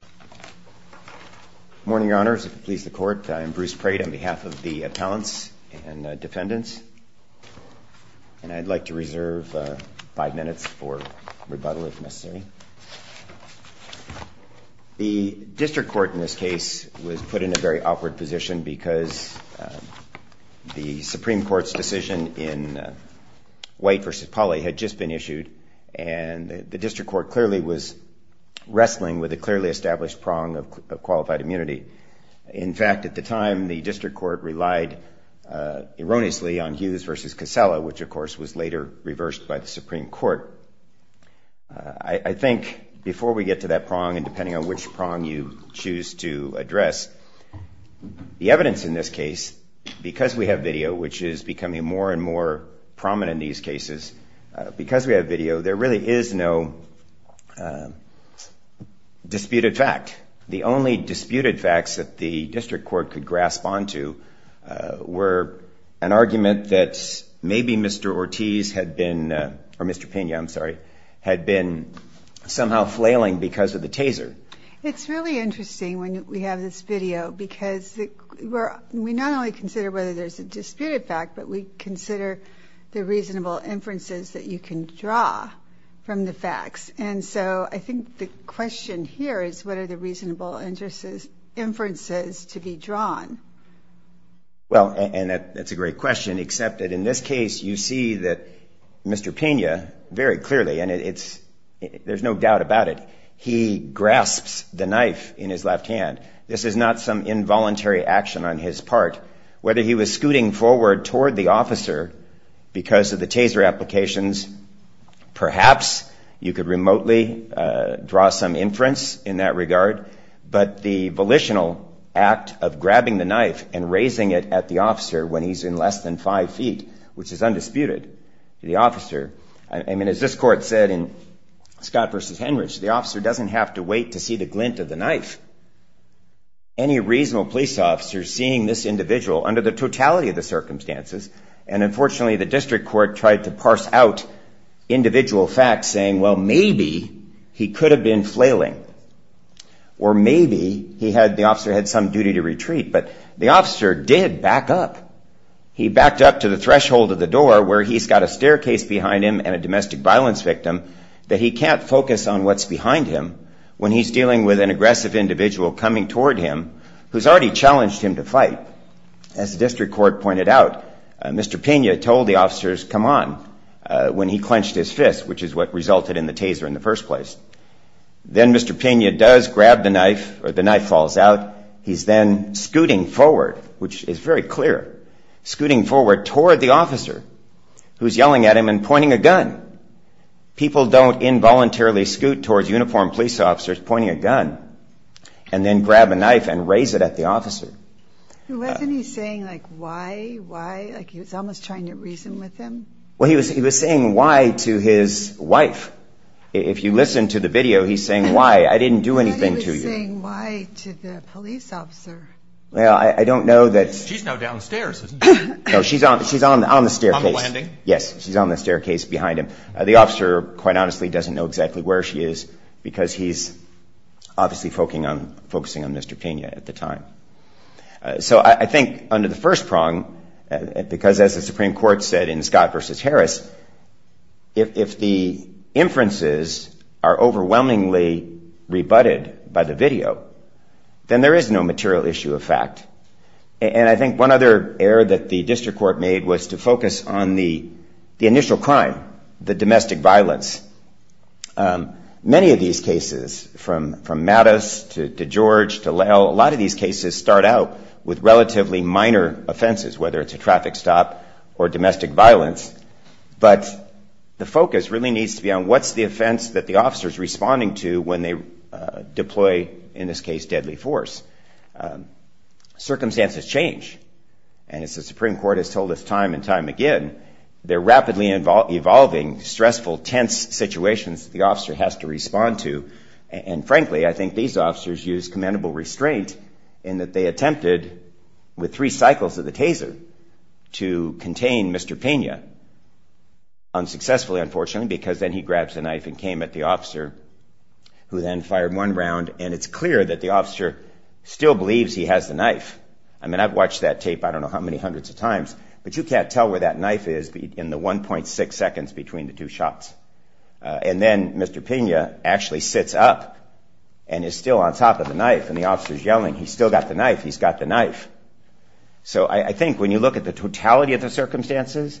Good morning, your honors. If it pleases the court, I am Bruce Prate on behalf of the appellants and defendants and I'd like to reserve five minutes for rebuttal if necessary. The district court in this case was put in a very awkward position because the Supreme Court's decision in White v. Pauly had just been issued and the district court clearly was wrestling with a clearly established prong of qualified immunity. In fact, at the time the district court relied erroneously on Hughes v. Casella, which of course was later reversed by the Supreme Court. I think before we get to that prong and depending on which prong you choose to address, the evidence in this case, because we have video which is becoming more and more prominent in these cases, because we have video there really is no disputed fact. The only disputed facts that the district court could grasp onto were an argument that maybe Mr. Ortiz had been, or Mr. Pena, I'm sorry, had been somehow flailing because of the taser. It's really interesting when we have this video because we not only consider whether there's a disputed fact, but we consider the reasonable inferences that you can draw from the facts. And so I think the question here is what are the reasonable inferences to be drawn? Well, and that's a great question, except that in this case you see that Mr. Pena very clearly, and it's there's no doubt about it, he grasps the knife in his left hand. This is not some involuntary action on his part. Whether he was scooting forward toward the officer because of the taser applications, perhaps you could remotely draw some inference in that regard, but the volitional act of grabbing the knife and raising it at the officer when he's in less than five feet, which is undisputed, the officer, I mean, as this court said in Scott versus Henrich, the officer doesn't have to wait to see the glint of the knife. Any reasonable police officer seeing this individual under the totality of the circumstances, and unfortunately the district court tried to parse out individual facts saying, well, maybe he could have been flailing, or maybe he had, the officer had some duty to retreat, but the officer did back up. He backed up to the threshold of the door where he's got a staircase behind him and a domestic violence victim that he can't focus on what's behind him when he's dealing with an aggressive individual coming toward him who's already challenged him to fight. As the district court pointed out, Mr. Pena told the officers, come on, when he clenched his fist, which is what resulted in the taser in the first place. Then Mr. Pena does grab the knife or the knife falls out. He's then scooting forward, which is very clear, scooting forward toward the officer who's yelling at him and pointing a gun. People don't involuntarily scoot towards uniformed police officers pointing a gun and then grab a knife and raise it at the officer. Wasn't he saying, like, why, why? Like, he was almost trying to reason with him? Well, he was saying why to his wife. If you listen to the video, he's saying why. I didn't do anything to you. But he was saying why to the police officer. Well, I don't know that... She's now downstairs, isn't she? No, she's on the staircase. On the landing? Yes, she's on the staircase behind him. The officer, quite honestly, doesn't know exactly where she is because he's obviously focusing on Mr. Pena at the time. So I think under the first prong, because as the Supreme Court said in Scott versus Harris, if the inferences are overwhelmingly rebutted by the video, then there is no material issue of fact. And I think one other error that the district court made was to focus on the initial crime, the domestic violence. Many of these cases, from Mattis to George to Lell, a lot of these cases start out with relatively minor offenses, whether it's a traffic stop or domestic violence. But the focus really needs to be on what's the offense that the officer's responding to when they deploy, in this case, deadly force. Circumstances change. And as the Supreme Court has told us time and time again, they're rapidly evolving stressful, tense situations that the officer has to respond to. And frankly, I think these officers use commendable restraint in that they attempted, with three cycles of the taser, to contain Mr. Pena unsuccessfully, unfortunately, because then he grabs the knife and came at the officer, who then fired one round. And it's clear that the officer still believes he has the knife. I mean, I've watched that tape I don't know how many seconds the knife is in the 1.6 seconds between the two shots. And then Mr. Pena actually sits up and is still on top of the knife and the officer's yelling, he's still got the knife, he's got the knife. So I think when you look at the totality of the circumstances,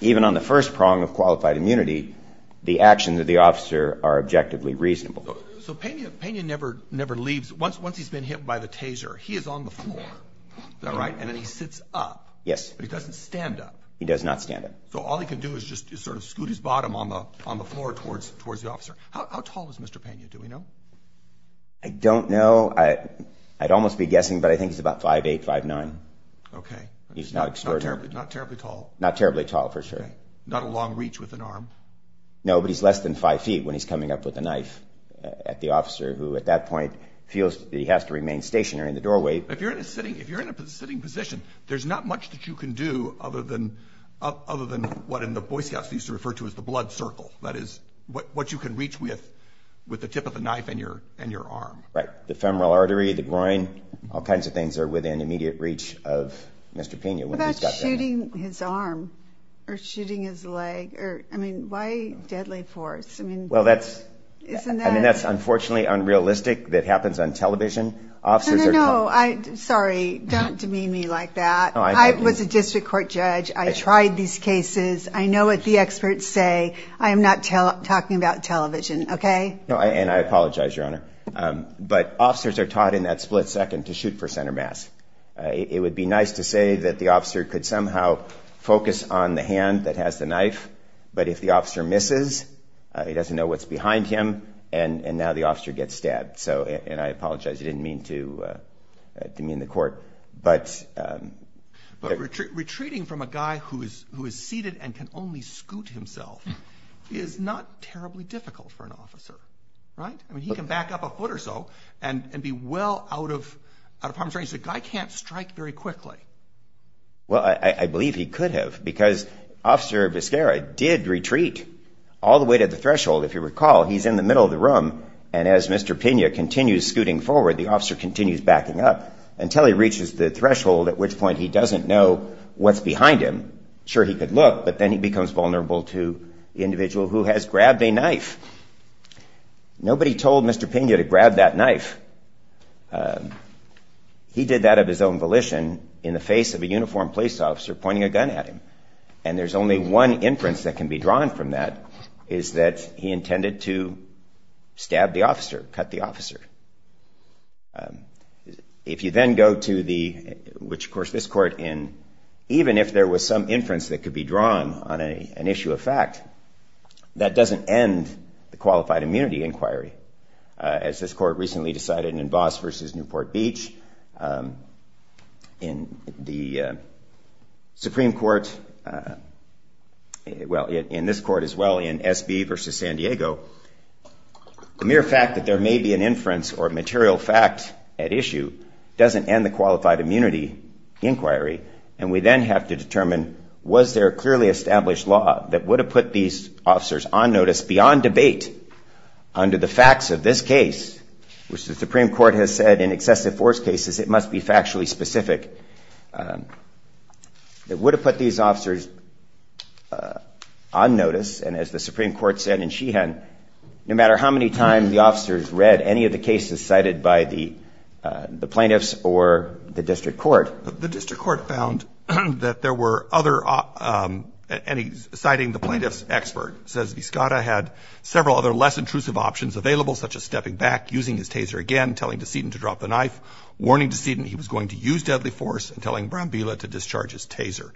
even on the first prong of qualified immunity, the actions of the officer are objectively reasonable. So Pena never leaves. Once he's been hit by the taser, he is on the floor. All right. And then he sits up. Yes. But he doesn't stand up. He does not stand up. So all he can do is just sort of scoot his bottom on the floor towards the officer. How tall is Mr. Pena? Do we know? I don't know. I'd almost be guessing, but I think it's about five, eight, five, nine. Okay. He's not terribly tall. Not terribly tall for sure. Not a long reach with an arm. No, but he's less than five feet when he's coming up with a knife at the officer, who at that point feels that he has to remain stationary in the doorway. If you're in a sitting, if you're in a sitting position, there's not much that you can do other than, other than what in the Boy Scouts used to refer to as the blood circle. That is what you can reach with, with the tip of the knife and your, and your arm. Right. The femoral artery, the groin, all kinds of things are within immediate reach of Mr. Pena. What about shooting or shooting his leg or, I mean, why deadly force? I mean, well, that's, isn't that, I mean, that's unfortunately unrealistic that happens on television. Officers are, no, I, sorry, don't demean me like that. I was a district court judge. I tried these cases. I know what the experts say. I am not talking about television. Okay. And I apologize, Your Honor. But officers are taught in that split second to shoot for center mass. It would be nice to say that the officer could somehow focus on the hand that has the knife. But if the officer misses, he doesn't know what's behind him. And, and now the officer gets stabbed. So, and I apologize. I didn't mean to demean the court. But. But retreating from a guy who is, who is seated and can only scoot himself is not terribly difficult for an officer. Right? I mean, he can back up a foot or so and be well out of, out of harm's way. So the guy can't strike very quickly. Well, I, I believe he could have because Officer Vizcara did retreat all the way to the threshold. If you recall, he's in the middle of the room and as Mr. Pena continues scooting forward, the officer continues backing up until he reaches the threshold, at which point he doesn't know what's behind him. Sure, he could look, but then he becomes vulnerable to the individual who has grabbed a knife. Nobody told Mr. Pena to grab that knife. He did that of his own volition in the face of a uniformed police officer pointing a gun at him. And there's only one inference that can be drawn from that, is that he intended to stab the officer, cut the officer. If you then go to the, which of course this court in, even if there was some inference that could be drawn on a, an as this court recently decided in Voss versus Newport Beach, in the Supreme Court, well, in this court as well, in SB versus San Diego, the mere fact that there may be an inference or material fact at issue doesn't end the qualified immunity inquiry. And we then have to determine, was there a clearly established law that would have put these officers on notice beyond debate under the facts of this case, which the Supreme Court has said in excessive force cases, it must be factually specific, that would have put these officers on notice, and as the Supreme Court said in Sheehan, no matter how many times the officers read any of the cases cited by the plaintiffs or the district court. The district court found that there were other, citing the plaintiffs as expert, says Viscotta had several other less intrusive options available such as stepping back, using his taser again, telling Decedent to drop the knife, warning Decedent he was going to use deadly force, and telling Brambilla to discharge his taser.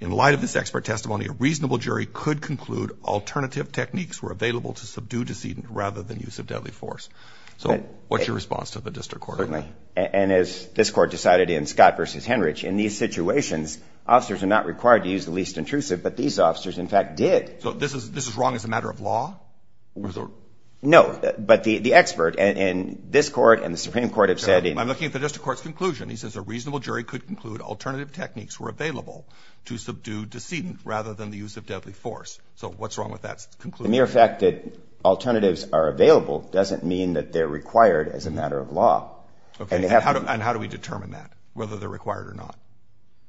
In light of this expert testimony, a reasonable jury could conclude alternative techniques were available to subdue Decedent rather than use of deadly force. So what's your response to the district court on that? Certainly. And as this court decided in Scott versus Henrich, in these situations, officers are not required to use the least intrusive, but these officers, in fact, did. So this is wrong as a matter of law? No. But the expert in this court and the Supreme Court have said in I'm looking at the district court's conclusion. He says a reasonable jury could conclude alternative techniques were available to subdue Decedent rather than the use of deadly force. So what's wrong with that conclusion? The mere fact that alternatives are available doesn't mean that they're required as a matter of law. Okay. And how do we determine that, whether they're required or not?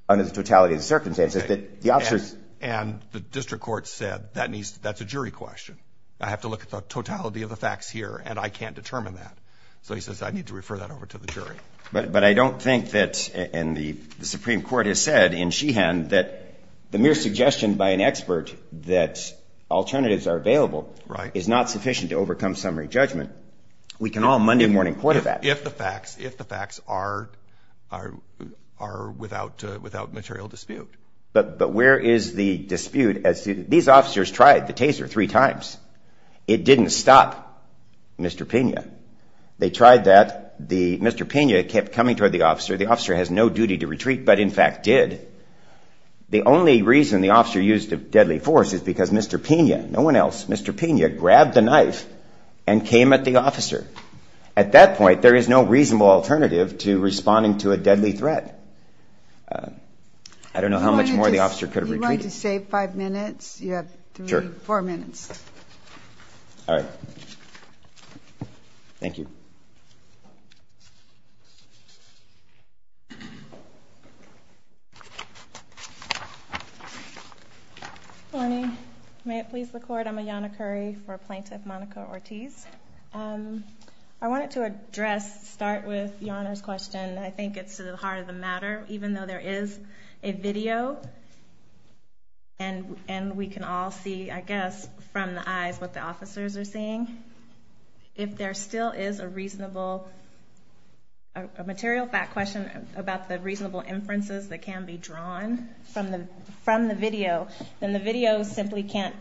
Under the totality of the circumstances that the officers And the district court said that's a jury question. I have to look at the totality of the facts here, and I can't determine that. So he says I need to refer that over to the jury. But I don't think that, and the Supreme Court has said in Sheehan, that the mere suggestion by an expert that alternatives are available is not sufficient to overcome summary judgment. We can all Monday morning put it back. If the facts are without material dispute. But where is the dispute? These officers tried the taser three times. It didn't stop Mr. Pena. They tried that. Mr. Pena kept coming toward the officer. The officer has no duty to retreat, but in fact did. The only reason the officer used deadly force is because Mr. Pena, no one else, Mr. Pena grabbed the knife and came at the officer. At that point, there is no reasonable alternative to responding to a deadly threat. I don't know how much more the officer could have retreated. You want to save five minutes? You have three, four minutes. All right. Thank you. Good morning. May it please the court, I'm Ayanna Curry for Plaintiff Monica Ortiz. I wanted to address, start with your Honor's question. I think it's to the heart of the matter. Even though there is a video, and we can all see, I guess, from the eyes what the officers are seeing, if there still is a reasonable, a material fact question about the reasonable inferences that can be drawn from the video, then the video simply can't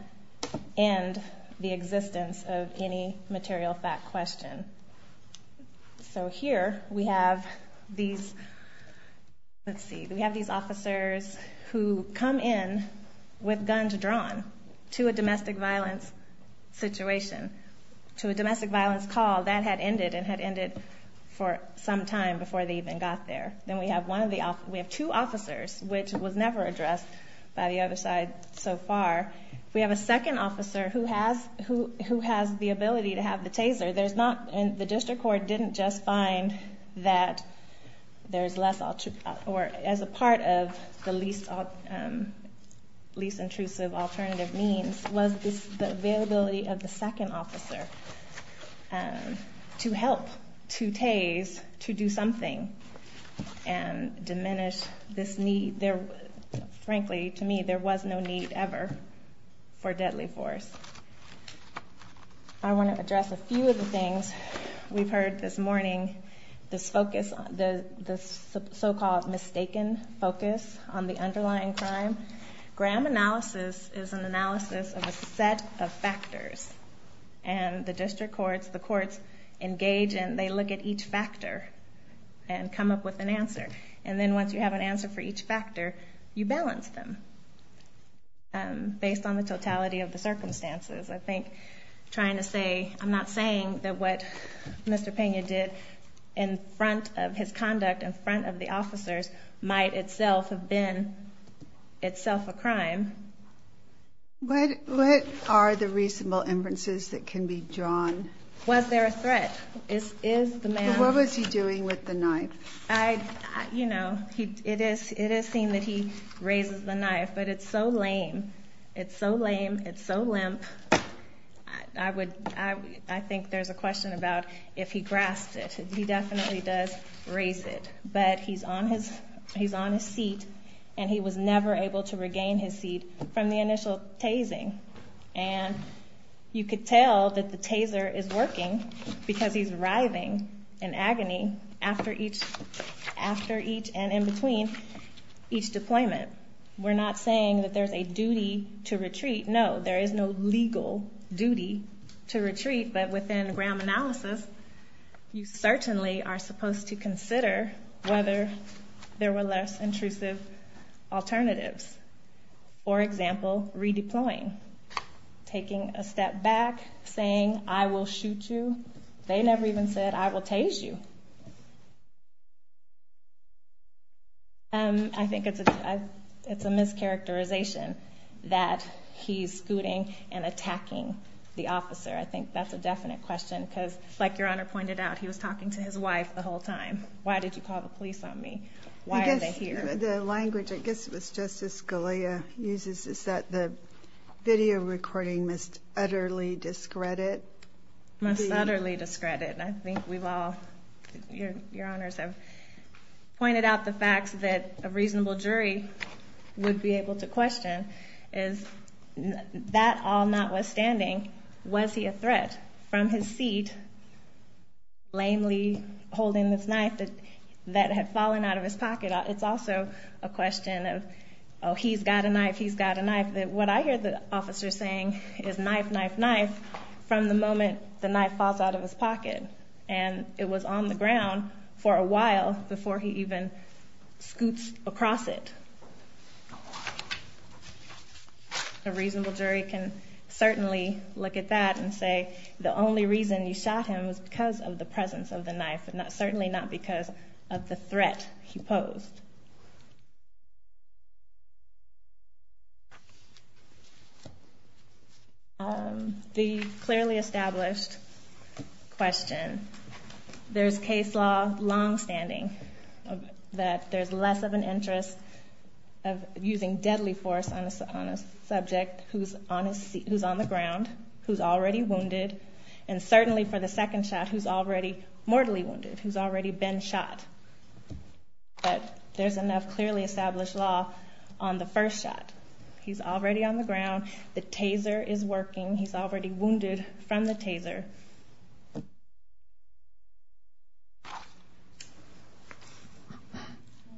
end the existence of any material fact question. So here we have these, let's see, we have these officers who come in with guns drawn to a domestic violence situation, to a domestic violence call that had ended and had ended for some time before they even got there. Then we have two officers, which was never addressed by the other side so far. We have a second officer who has the ability to have the taser. The district court didn't just find that there's less, or as a part of the least intrusive alternative means was the availability of the second officer to help, to tase, to do something and diminish this need. Frankly, to me, there was no need ever for deadly force. I want to address a few of the things we've heard this morning. This focus, this so-called mistaken focus on the underlying crime. Graham analysis is an analysis of a set of factors. And the district courts, the courts engage and they look at each factor and come up with an answer. And then once you have an answer for each factor, you balance them based on the totality of the circumstances. I think trying to say, I'm not saying that what Mr. Pena did in front of his conduct, in front of the officers might itself have been itself a crime. What are the reasonable inferences that can be drawn? Was there a threat? Is the man, what was he doing with the knife? You know, it is seen that he raises the knife, but it's so lame. It's so lame. It's so limp. I would, I think there's a question about if he grasped it. He definitely does raise it, but he's on his seat and he was never able to regain his seat from the initial tasing. And you could tell that the taser is working because he's writhing in agony after each, after each and in between each deployment. We're not saying that there's a duty to retreat. No, there is no legal duty to retreat. But within Graham analysis, you certainly are supposed to consider whether there were less intrusive alternatives. For example, redeploying, taking a step back, saying I will shoot you. They never even said I will tase you. I think it's a, it's a mischaracterization that he's scooting and attacking the officer. I think that's a definite question because like your Honor pointed out, he was talking to his wife the whole time. Why did you call the police on me? The language, I guess it was Justice Scalia uses is that the video recording must utterly discredit, must utterly discredit. And I think we've all, your, your honors have pointed out the facts that a reasonable jury would be able to question is that all notwithstanding, was he a threat from his seat? Lamely holding this knife that had fallen out of his pocket. It's also a question of, Oh, he's got a knife. He's got a knife that what I hear the officer saying is knife, knife, knife. From the moment the knife falls out of his pocket and it was on the ground for a while before he even scoots across it. A reasonable jury can certainly look at that and say the only reason you shot him was because of the presence of the knife and not certainly not because of the threat he posed. The clearly established question. There's case law longstanding that there's less of an interest of using deadly force on a subject who's on his seat, who's on the ground, who's already wounded. And certainly for the second shot, who's already mortally wounded, who's already been shot. But there's enough clearly established law on the first shot. He's already on the ground. The taser is working. He's already wounded from the taser.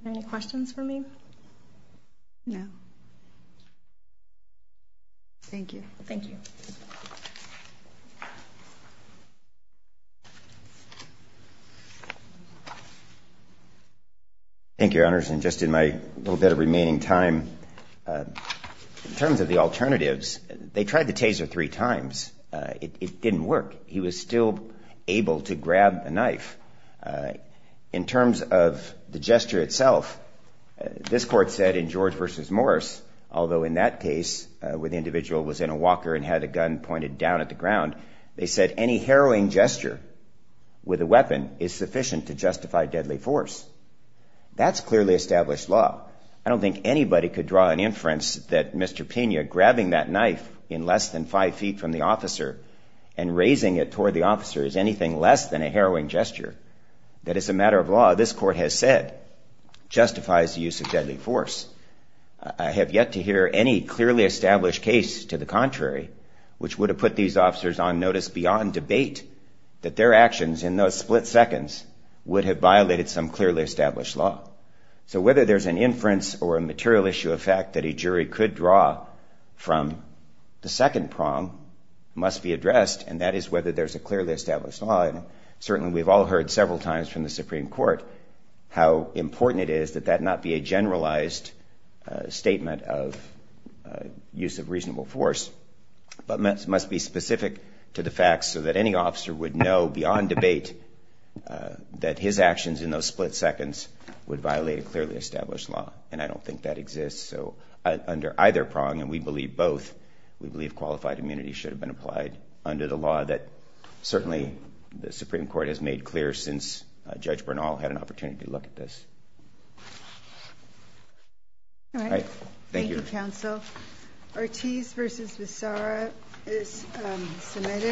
Any questions for me? No. Thank you. Thank you. Thank you, Your Honors. And just in my little bit of remaining time, in terms of the alternatives, they tried the taser three times. It didn't work. He was still able to grab a knife. In terms of the gesture itself, this court said in George versus Morris, although in that case where the individual was in a walker and had a gun pointed down at the ground, they said any harrowing gesture with a weapon is sufficient to justify deadly force. That's clearly established law. I don't think anybody could draw an inference that Mr. Pena grabbing that knife in less than five feet from the officer and raising it toward the officer is anything less than a harrowing gesture. That is a matter of law. This court has said justifies the use of deadly force. I have yet to hear any clearly established case to the contrary, which would have put these officers on notice beyond debate that their actions in those split seconds would have violated some clearly established law. So whether there's an inference or a material issue of fact that a jury could draw from the second prong must be addressed, and that is whether there's a clearly established law. And certainly we've all heard several times from the Supreme Court how important it is that that not be a generalized statement of use of reasonable force, but must be specific to the facts so that any officer would know beyond debate that his actions in those split seconds would violate a clearly established law. And I don't think that exists. So under either prong, and we believe both, we believe qualified immunity should have been applied under the law that certainly the Supreme Court has made clear since Judge Bernal had an opportunity to look at this. All right. Thank you, Counsel. Ortiz v. Vissara is submitted.